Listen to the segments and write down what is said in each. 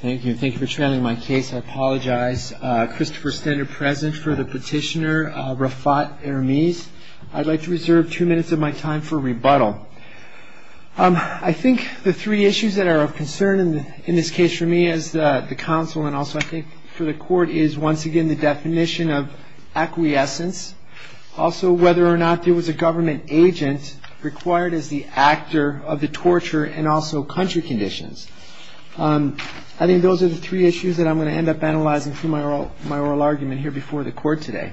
Thank you for trailing my case. I apologize. Christopher Stender present for the petitioner, Rafat Ermiz. I'd like to reserve two minutes of my time for rebuttal. I think the three issues that are of concern in this case for me as the counsel and also I think for the court is once again the definition of acquiescence. Also whether or not there was a government agent required as the actor of the torture and also country conditions. I think those are the three issues that I'm going to end up analyzing through my oral argument here before the court today.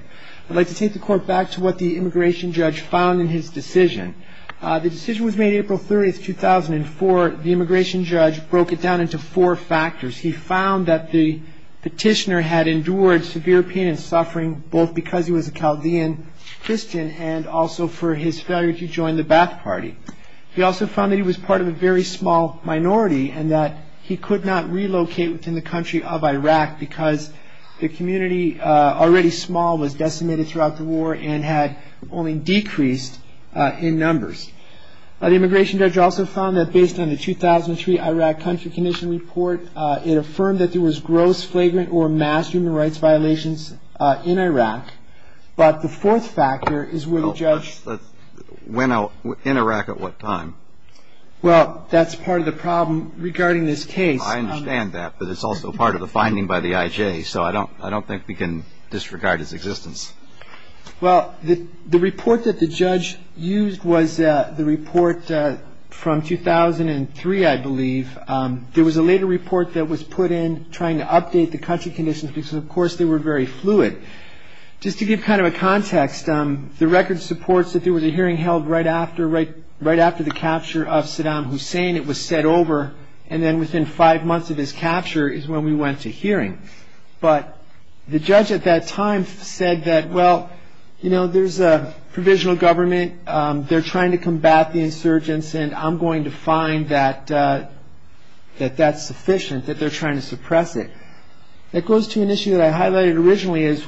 I'd like to take the court back to what the immigration judge found in his decision. The decision was made April 30, 2004. The immigration judge broke it down into four factors. He found that the petitioner had endured severe pain and suffering both because he was a Chaldean Christian and also for his failure to join the Ba'ath Party. He also found that he was part of a very small minority and that he could not relocate within the country of Iraq because the community already small was decimated throughout the war and had only decreased in numbers. The immigration judge also found that based on the 2003 Iraq country condition report it affirmed that there was gross flagrant or mass human rights violations in Iraq. But the fourth factor is where the judge went out in Iraq at what time. Well that's part of the problem regarding this case. I understand that but it's also part of the finding by the IJ. So I don't I don't think we can disregard his existence. Well the report that the judge used was the report from 2003 I believe. There was a later report that was put in trying to update the country conditions because of course they were very fluid. Just to give kind of a context the record supports that there was a hearing held right after right right after the capture of Saddam Hussein. It was said over and then within five months of his capture is when we went to hearing. But the judge at that time said that well you know there's a provisional government. They're trying to combat the insurgents and I'm going to find that that that's sufficient that they're trying to suppress it. That goes to an issue that I highlighted originally is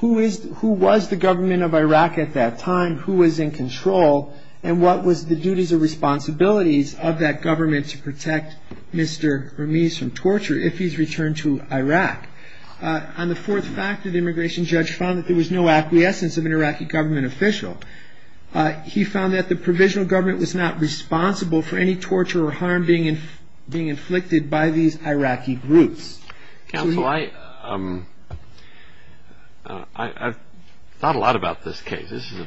who is who was the government of Iraq at that time. Who was in control and what was the duties or responsibilities of that government to protect Mr. Ramis from torture if he's returned to Iraq. On the fourth factor the immigration judge found that there was no acquiescence of an Iraqi government official. He found that the provisional government was not responsible for any torture or harm being in being inflicted by these Iraqi groups. Counsel I thought a lot about this case. This is a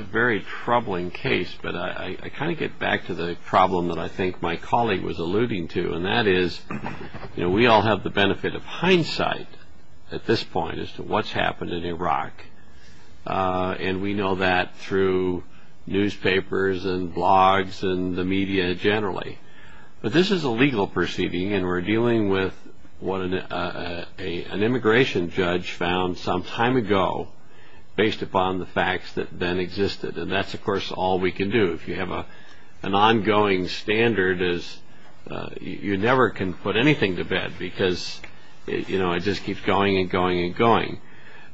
very troubling case but I kind of get back to the problem that I think my colleague was alluding to. And that is we all have the benefit of hindsight at this point as to what's happened in Iraq. And we know that through newspapers and blogs and the media generally. But this is a legal proceeding and we're dealing with what an immigration judge found some time ago based upon the facts that then existed. And that's of course all we can do. If you have an ongoing standard you never can put anything to bed because it just keeps going and going and going.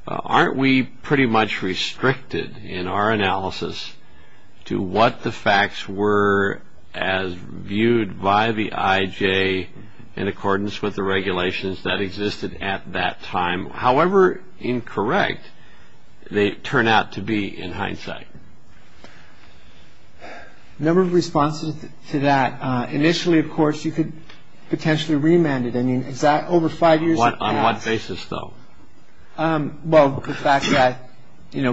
Aren't we pretty much restricted in our analysis to what the facts were as viewed by the IJ in accordance with the regulations that existed at that time. However incorrect they turn out to be in hindsight. A number of responses to that. Initially of course you could potentially remand it. On what basis though? Well the fact that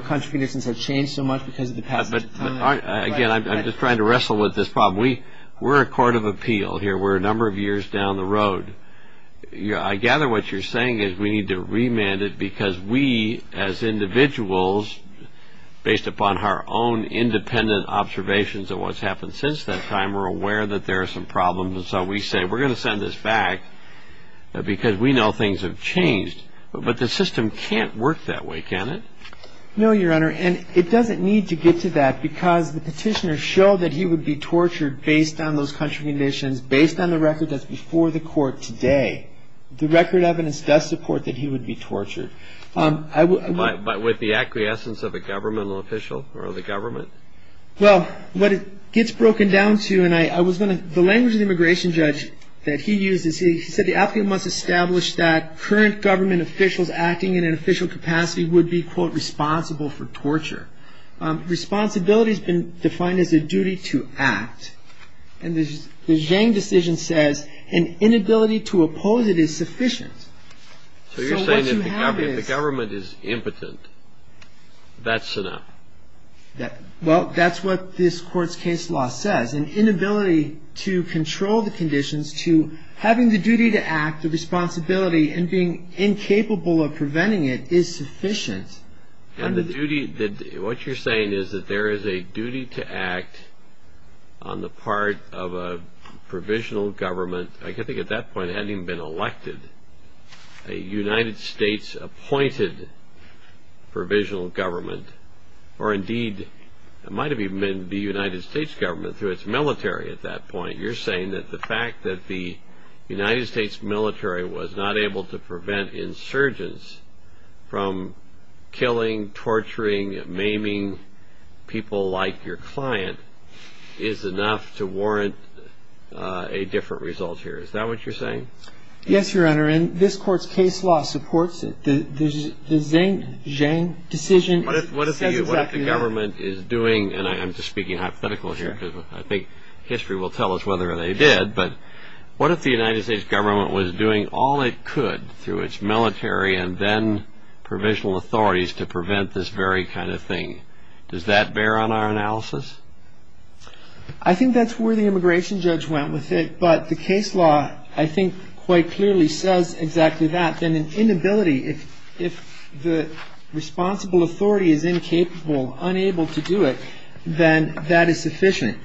country conditions have changed so much because of the passage of time. Again I'm just trying to wrestle with this problem. We're a court of appeal here. We're a number of years down the road. I gather what you're saying is we need to remand it because we as individuals based upon our own independent observations of what's happened since that time are aware that there are some problems and so we say we're going to send this back because we know things have changed. But the system can't work that way can it? No Your Honor and it doesn't need to get to that because the petitioner showed that he would be tortured based on those country conditions, based on the record that's before the court today. The record evidence does support that he would be tortured. But with the acquiescence of a governmental official or the government? Well what it gets broken down to and I was going to, the language of the immigration judge that he used is he said the applicant must establish that current government officials acting in an official capacity would be quote responsible for torture. Responsibility has been defined as a duty to act. And the Zhang decision says an inability to oppose it is sufficient. So you're saying if the government is impotent that's enough? Well that's what this court's case law says. An inability to control the conditions to having the duty to act, the responsibility, and being incapable of preventing it is sufficient. And the duty, what you're saying is that there is a duty to act on the part of a provisional government. I think at that point it hadn't even been elected. A United States appointed provisional government, or indeed it might have even been the United States government through its military at that point. You're saying that the fact that the United States military was not able to prevent insurgents from killing, torturing, maiming people like your client is enough to warrant a different result here. Is that what you're saying? Yes, Your Honor. And this court's case law supports it. The Zhang decision says exactly that. What if the government is doing, and I'm just speaking hypothetical here because I think history will tell us whether they did, but what if the United States government was doing all it could through its military and then provisional authorities to prevent this very kind of thing? Does that bear on our analysis? I think that's where the immigration judge went with it. But the case law, I think, quite clearly says exactly that. Then an inability, if the responsible authority is incapable, unable to do it, then that is sufficient.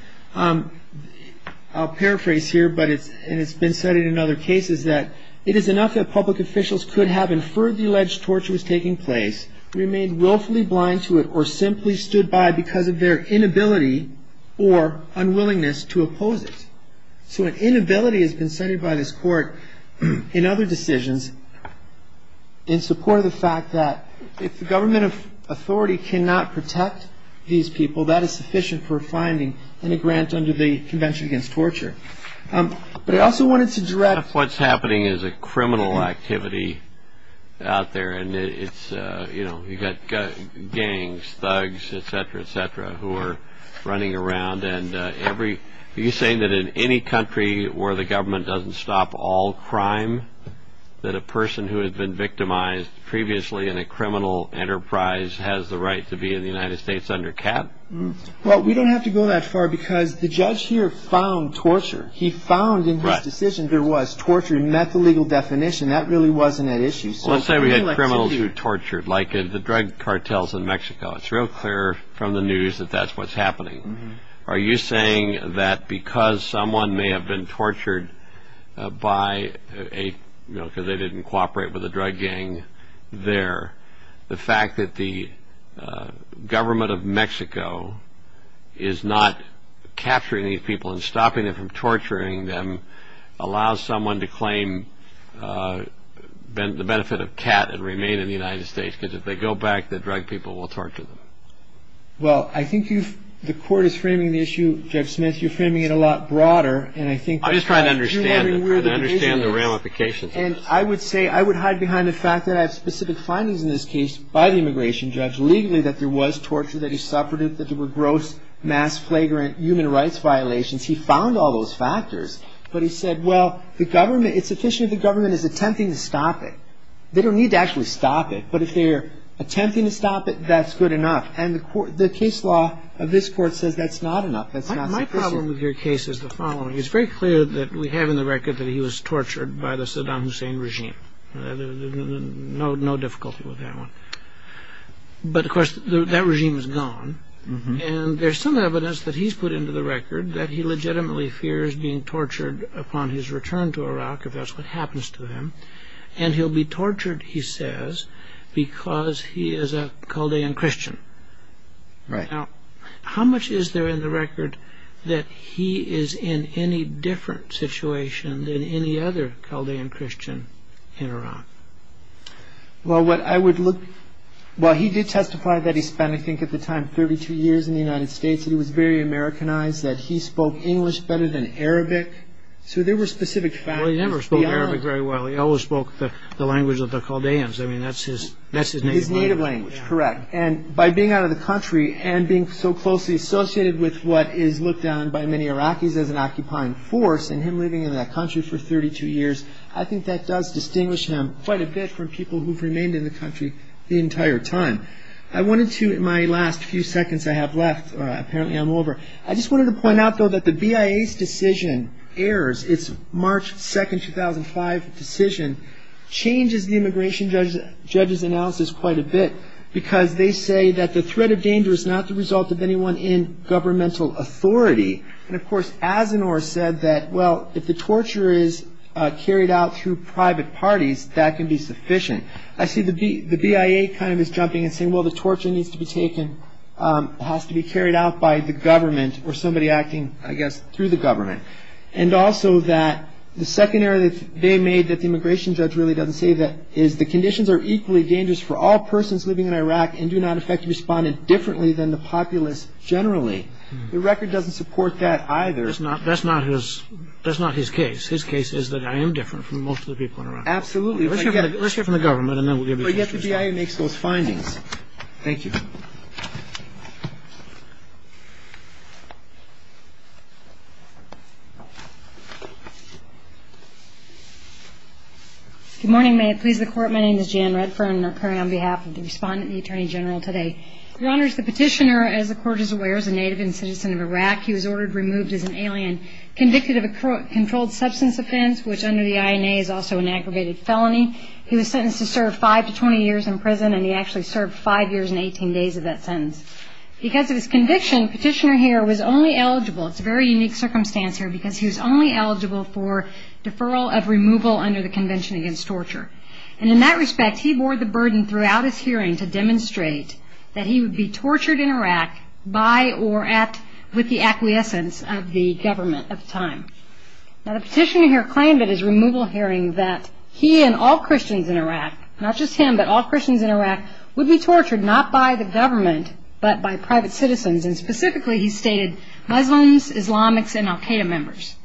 I'll paraphrase here, and it's been cited in other cases, that it is enough that public officials could have inferred the alleged torture was taking place, remained willfully blind to it, or simply stood by because of their inability or unwillingness to oppose it. So an inability has been cited by this court in other decisions in support of the fact that if the government authority cannot protect these people, that is sufficient for finding any grant under the Convention Against Torture. But I also wanted to direct... What's happening is a criminal activity out there, and you've got gangs, thugs, etc., etc., who are running around, and every... Are you saying that in any country where the government doesn't stop all crime, that a person who had been victimized previously in a criminal enterprise has the right to be in the United States under cap? Well, we don't have to go that far because the judge here found torture. He found in his decision there was torture. He met the legal definition. That really wasn't an issue. Let's say we had criminals who were tortured, like the drug cartels in Mexico. It's real clear from the news that that's what's happening. Are you saying that because someone may have been tortured by a... because they didn't cooperate with a drug gang there, the fact that the government of Mexico is not capturing these people and stopping them from torturing them allows someone to claim the benefit of cat and remain in the United States because if they go back, the drug people will torture them? Well, I think you've... The court is framing the issue, Judge Smith, you're framing it a lot broader, and I think... I'm just trying to understand it. I'm trying to understand the ramifications of this. And I would say... I would hide behind the fact that I have specific findings in this case by the immigration judge legally that there was torture, that he suffered it, that there were gross, mass, flagrant human rights violations. He found all those factors. But he said, well, the government... It's sufficient the government is attempting to stop it. They don't need to actually stop it. But if they're attempting to stop it, that's good enough. And the case law of this court says that's not enough. That's not sufficient. My problem with your case is the following. It's very clear that we have in the record that he was tortured by the Saddam Hussein regime. No difficulty with that one. But, of course, that regime is gone. And there's some evidence that he's put into the record that he legitimately fears being tortured upon his return to Iraq, if that's what happens to him. And he'll be tortured, he says, because he is a Chaldean Christian. Right. Now, how much is there in the record that he is in any different situation than any other Chaldean Christian in Iraq? Well, what I would look... Well, he did testify that he spent, I think at the time, 32 years in the United States and he was very Americanized, that he spoke English better than Arabic. So there were specific factors beyond... Well, he never spoke Arabic very well. He always spoke the language of the Chaldeans. I mean, that's his native language. His native language, correct. And by being out of the country and being so closely associated with what is looked down by many Iraqis as an occupying force and him living in that country for 32 years, I think that does distinguish him quite a bit from people who've remained in the country the entire time. I wanted to, in my last few seconds I have left, apparently I'm over, I just wanted to point out, though, that the BIA's decision, AIRS, its March 2, 2005 decision, changes the immigration judge's analysis quite a bit because they say that the threat of danger is not the result of anyone in governmental authority. And, of course, Asanoor said that, well, if the torture is carried out through private parties, that can be sufficient. I see the BIA kind of is jumping and saying, well, the torture needs to be taken, has to be carried out by the government or somebody acting, I guess, through the government. And also that the second error that they made that the immigration judge really doesn't say that is the conditions are equally dangerous for all persons living in Iraq and do not effectively respond differently than the populace generally. The record doesn't support that either. That's not his case. His case is that I am different from most of the people in Iraq. Absolutely. Let's hear from the government and then we'll give you the answers. But yet the BIA makes those findings. Thank you. Good morning. May it please the Court. My name is Jan Redfern. I'm appearing on behalf of the Respondent and the Attorney General today. Your Honor, as the Petitioner, as the Court is aware, is a native and citizen of Iraq. He was ordered removed as an alien, convicted of a controlled substance offense, which under the INA is also an aggravated felony. He was sentenced to serve five to 20 years in prison, and he actually served five years and 18 days of that sentence. Because of his conviction, Petitioner Heer was only eligible, it's a very unique circumstance here, because he was only eligible for deferral of removal under the Convention Against Torture. And in that respect, he bore the burden throughout his hearing to demonstrate that he would be tortured in Iraq by or at, with the acquiescence of the government of the time. Now, the Petitioner here claimed at his removal hearing that he and all Christians in Iraq, not just him, but all Christians in Iraq, would be tortured not by the government, but by private citizens, and specifically he stated Muslims, Islamics, and Al-Qaeda members.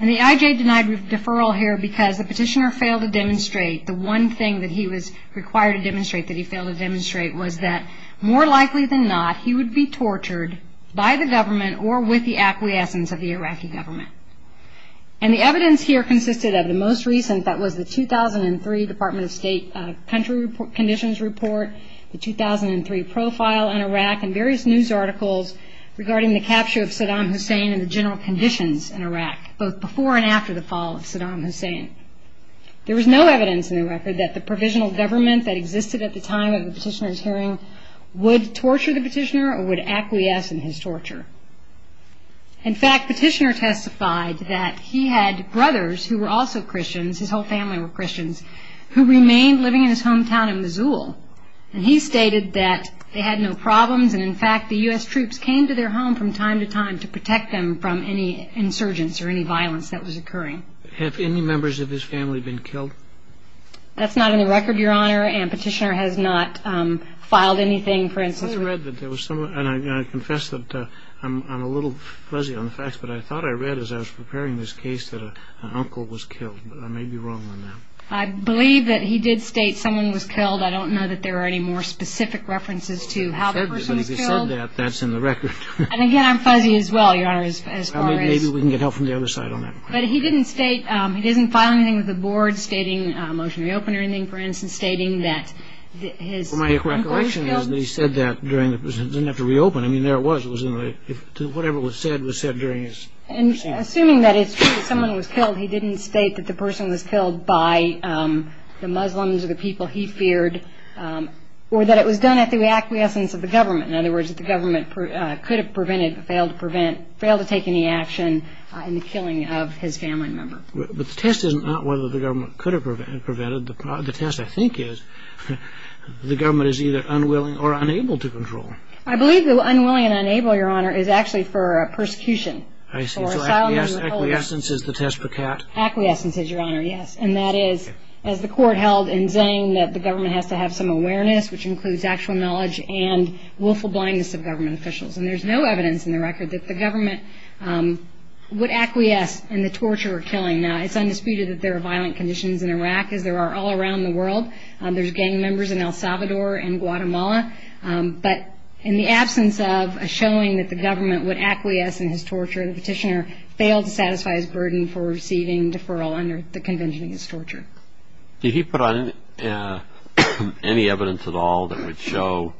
And the IJ denied deferral here because the Petitioner failed to demonstrate, the one thing that he was required to demonstrate that he failed to demonstrate, was that more likely than not, he would be tortured by the government or with the acquiescence of the Iraqi government. And the evidence here consisted of the most recent, that was the 2003 Department of State Country Conditions Report, the 2003 profile in Iraq, and various news articles regarding the capture of Saddam Hussein and the general conditions in Iraq, both before and after the fall of Saddam Hussein. There was no evidence in the record that the provisional government that existed at the time of the Petitioner's hearing would torture the Petitioner or would acquiesce in his torture. In fact, Petitioner testified that he had brothers who were also Christians, his whole family were Christians, who remained living in his hometown in Missoula. And he stated that they had no problems, and in fact the U.S. troops came to their home from time to time to protect them from any insurgence or any violence that was occurring. Have any members of his family been killed? That's not in the record, Your Honor, and Petitioner has not filed anything for instance. I thought I read that there was someone, and I confess that I'm a little fuzzy on the facts, but I thought I read as I was preparing this case that an uncle was killed, but I may be wrong on that. I believe that he did state someone was killed. I don't know that there are any more specific references to how the person was killed. But if he said that, that's in the record. And again, I'm fuzzy as well, Your Honor, as far as. Maybe we can get help from the other side on that. But he didn't state, he didn't file anything with the board, stating a motion to reopen or anything for instance, stating that his uncle was killed. Well, my recollection is that he said that during the, he didn't have to reopen. I mean, there it was. It was in the, whatever was said was said during his. Assuming that it's true that someone was killed, he didn't state that the person was killed by the Muslims or the people he feared or that it was done at the acquiescence of the government. In other words, that the government could have prevented, failed to prevent, failed to take any action in the killing of his family member. But the test is not whether the government could have prevented. The test, I think, is the government is either unwilling or unable to control. I believe the unwilling and unable, Your Honor, is actually for persecution. I see. So acquiescence is the test for cat. Acquiescence is, Your Honor, yes. And that is, as the court held in saying that the government has to have some awareness, which includes actual knowledge and willful blindness of government officials. And there's no evidence in the record that the government would acquiesce in the torture or killing. And it's undisputed that there are violent conditions in Iraq, as there are all around the world. There's gang members in El Salvador and Guatemala. But in the absence of a showing that the government would acquiesce in his torture, the petitioner failed to satisfy his burden for receiving deferral under the Convention Against Torture. Did he put on any evidence at all that would show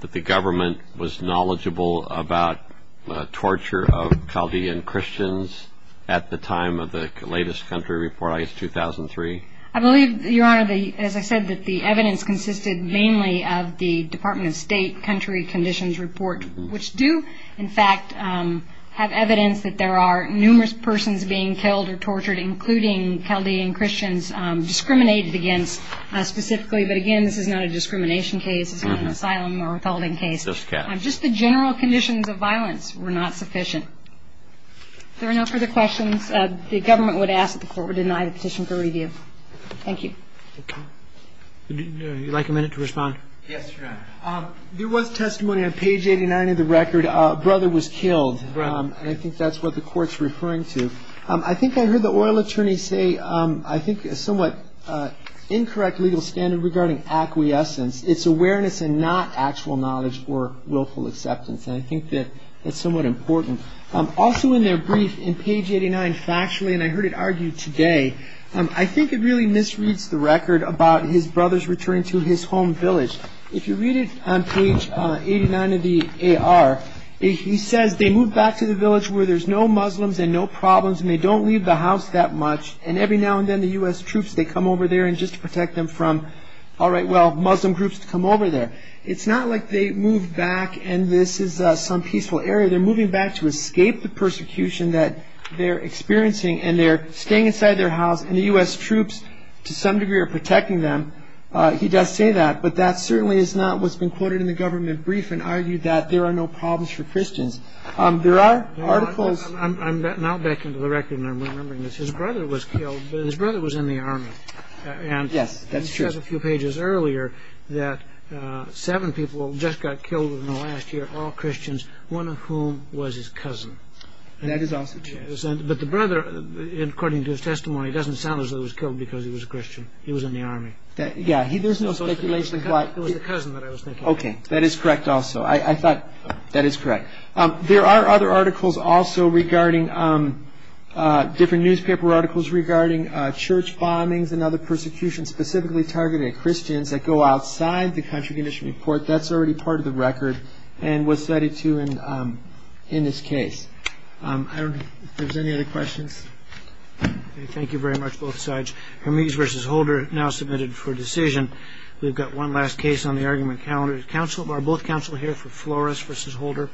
that the government was knowledgeable about the torture of Chaldean Christians at the time of the latest country report, I guess, 2003? I believe, Your Honor, as I said, that the evidence consisted mainly of the Department of State country conditions report, which do, in fact, have evidence that there are numerous persons being killed or tortured, including Chaldean Christians, discriminated against specifically. But, again, this is not a discrimination case. This is not an asylum or withholding case. Just the general conditions of violence were not sufficient. If there are no further questions, the government would ask that the Court would deny the petition for review. Thank you. Would you like a minute to respond? Yes, Your Honor. There was testimony on page 89 of the record. A brother was killed. Right. And I think that's what the Court's referring to. I think I heard the oil attorney say I think a somewhat incorrect legal standard regarding acquiescence. It's awareness and not actual knowledge or willful acceptance, and I think that that's somewhat important. Also in their brief, in page 89, factually, and I heard it argued today, I think it really misreads the record about his brother's return to his home village. If you read it on page 89 of the AR, he says they moved back to the village where there's no Muslims and no problems and they don't leave the house that much, and every now and then the U.S. troops, they come over there just to protect them from, all right, well, Muslim groups come over there. It's not like they moved back and this is some peaceful area. They're moving back to escape the persecution that they're experiencing, and they're staying inside their house and the U.S. troops to some degree are protecting them. He does say that, but that certainly is not what's been quoted in the government brief and argued that there are no problems for Christians. There are articles. I'm now back into the record and I'm remembering this. His brother was killed, but his brother was in the Army. Yes, that's true. He says a few pages earlier that seven people just got killed in the last year, all Christians, one of whom was his cousin. That is also true. But the brother, according to his testimony, doesn't sound as though he was killed because he was a Christian. He was in the Army. Yeah, there's no speculation. It was the cousin that I was thinking of. Okay, that is correct also. I thought that is correct. There are other articles also regarding different newspaper articles regarding church bombings and other persecutions specifically targeted at Christians that go outside the country condition report. That's already part of the record and was cited, too, in this case. I don't know if there's any other questions. Thank you very much, both sides. Hermes v. Holder now submitted for decision. We've got one last case on the argument calendar. Are both counsel here for Flores v. Holder?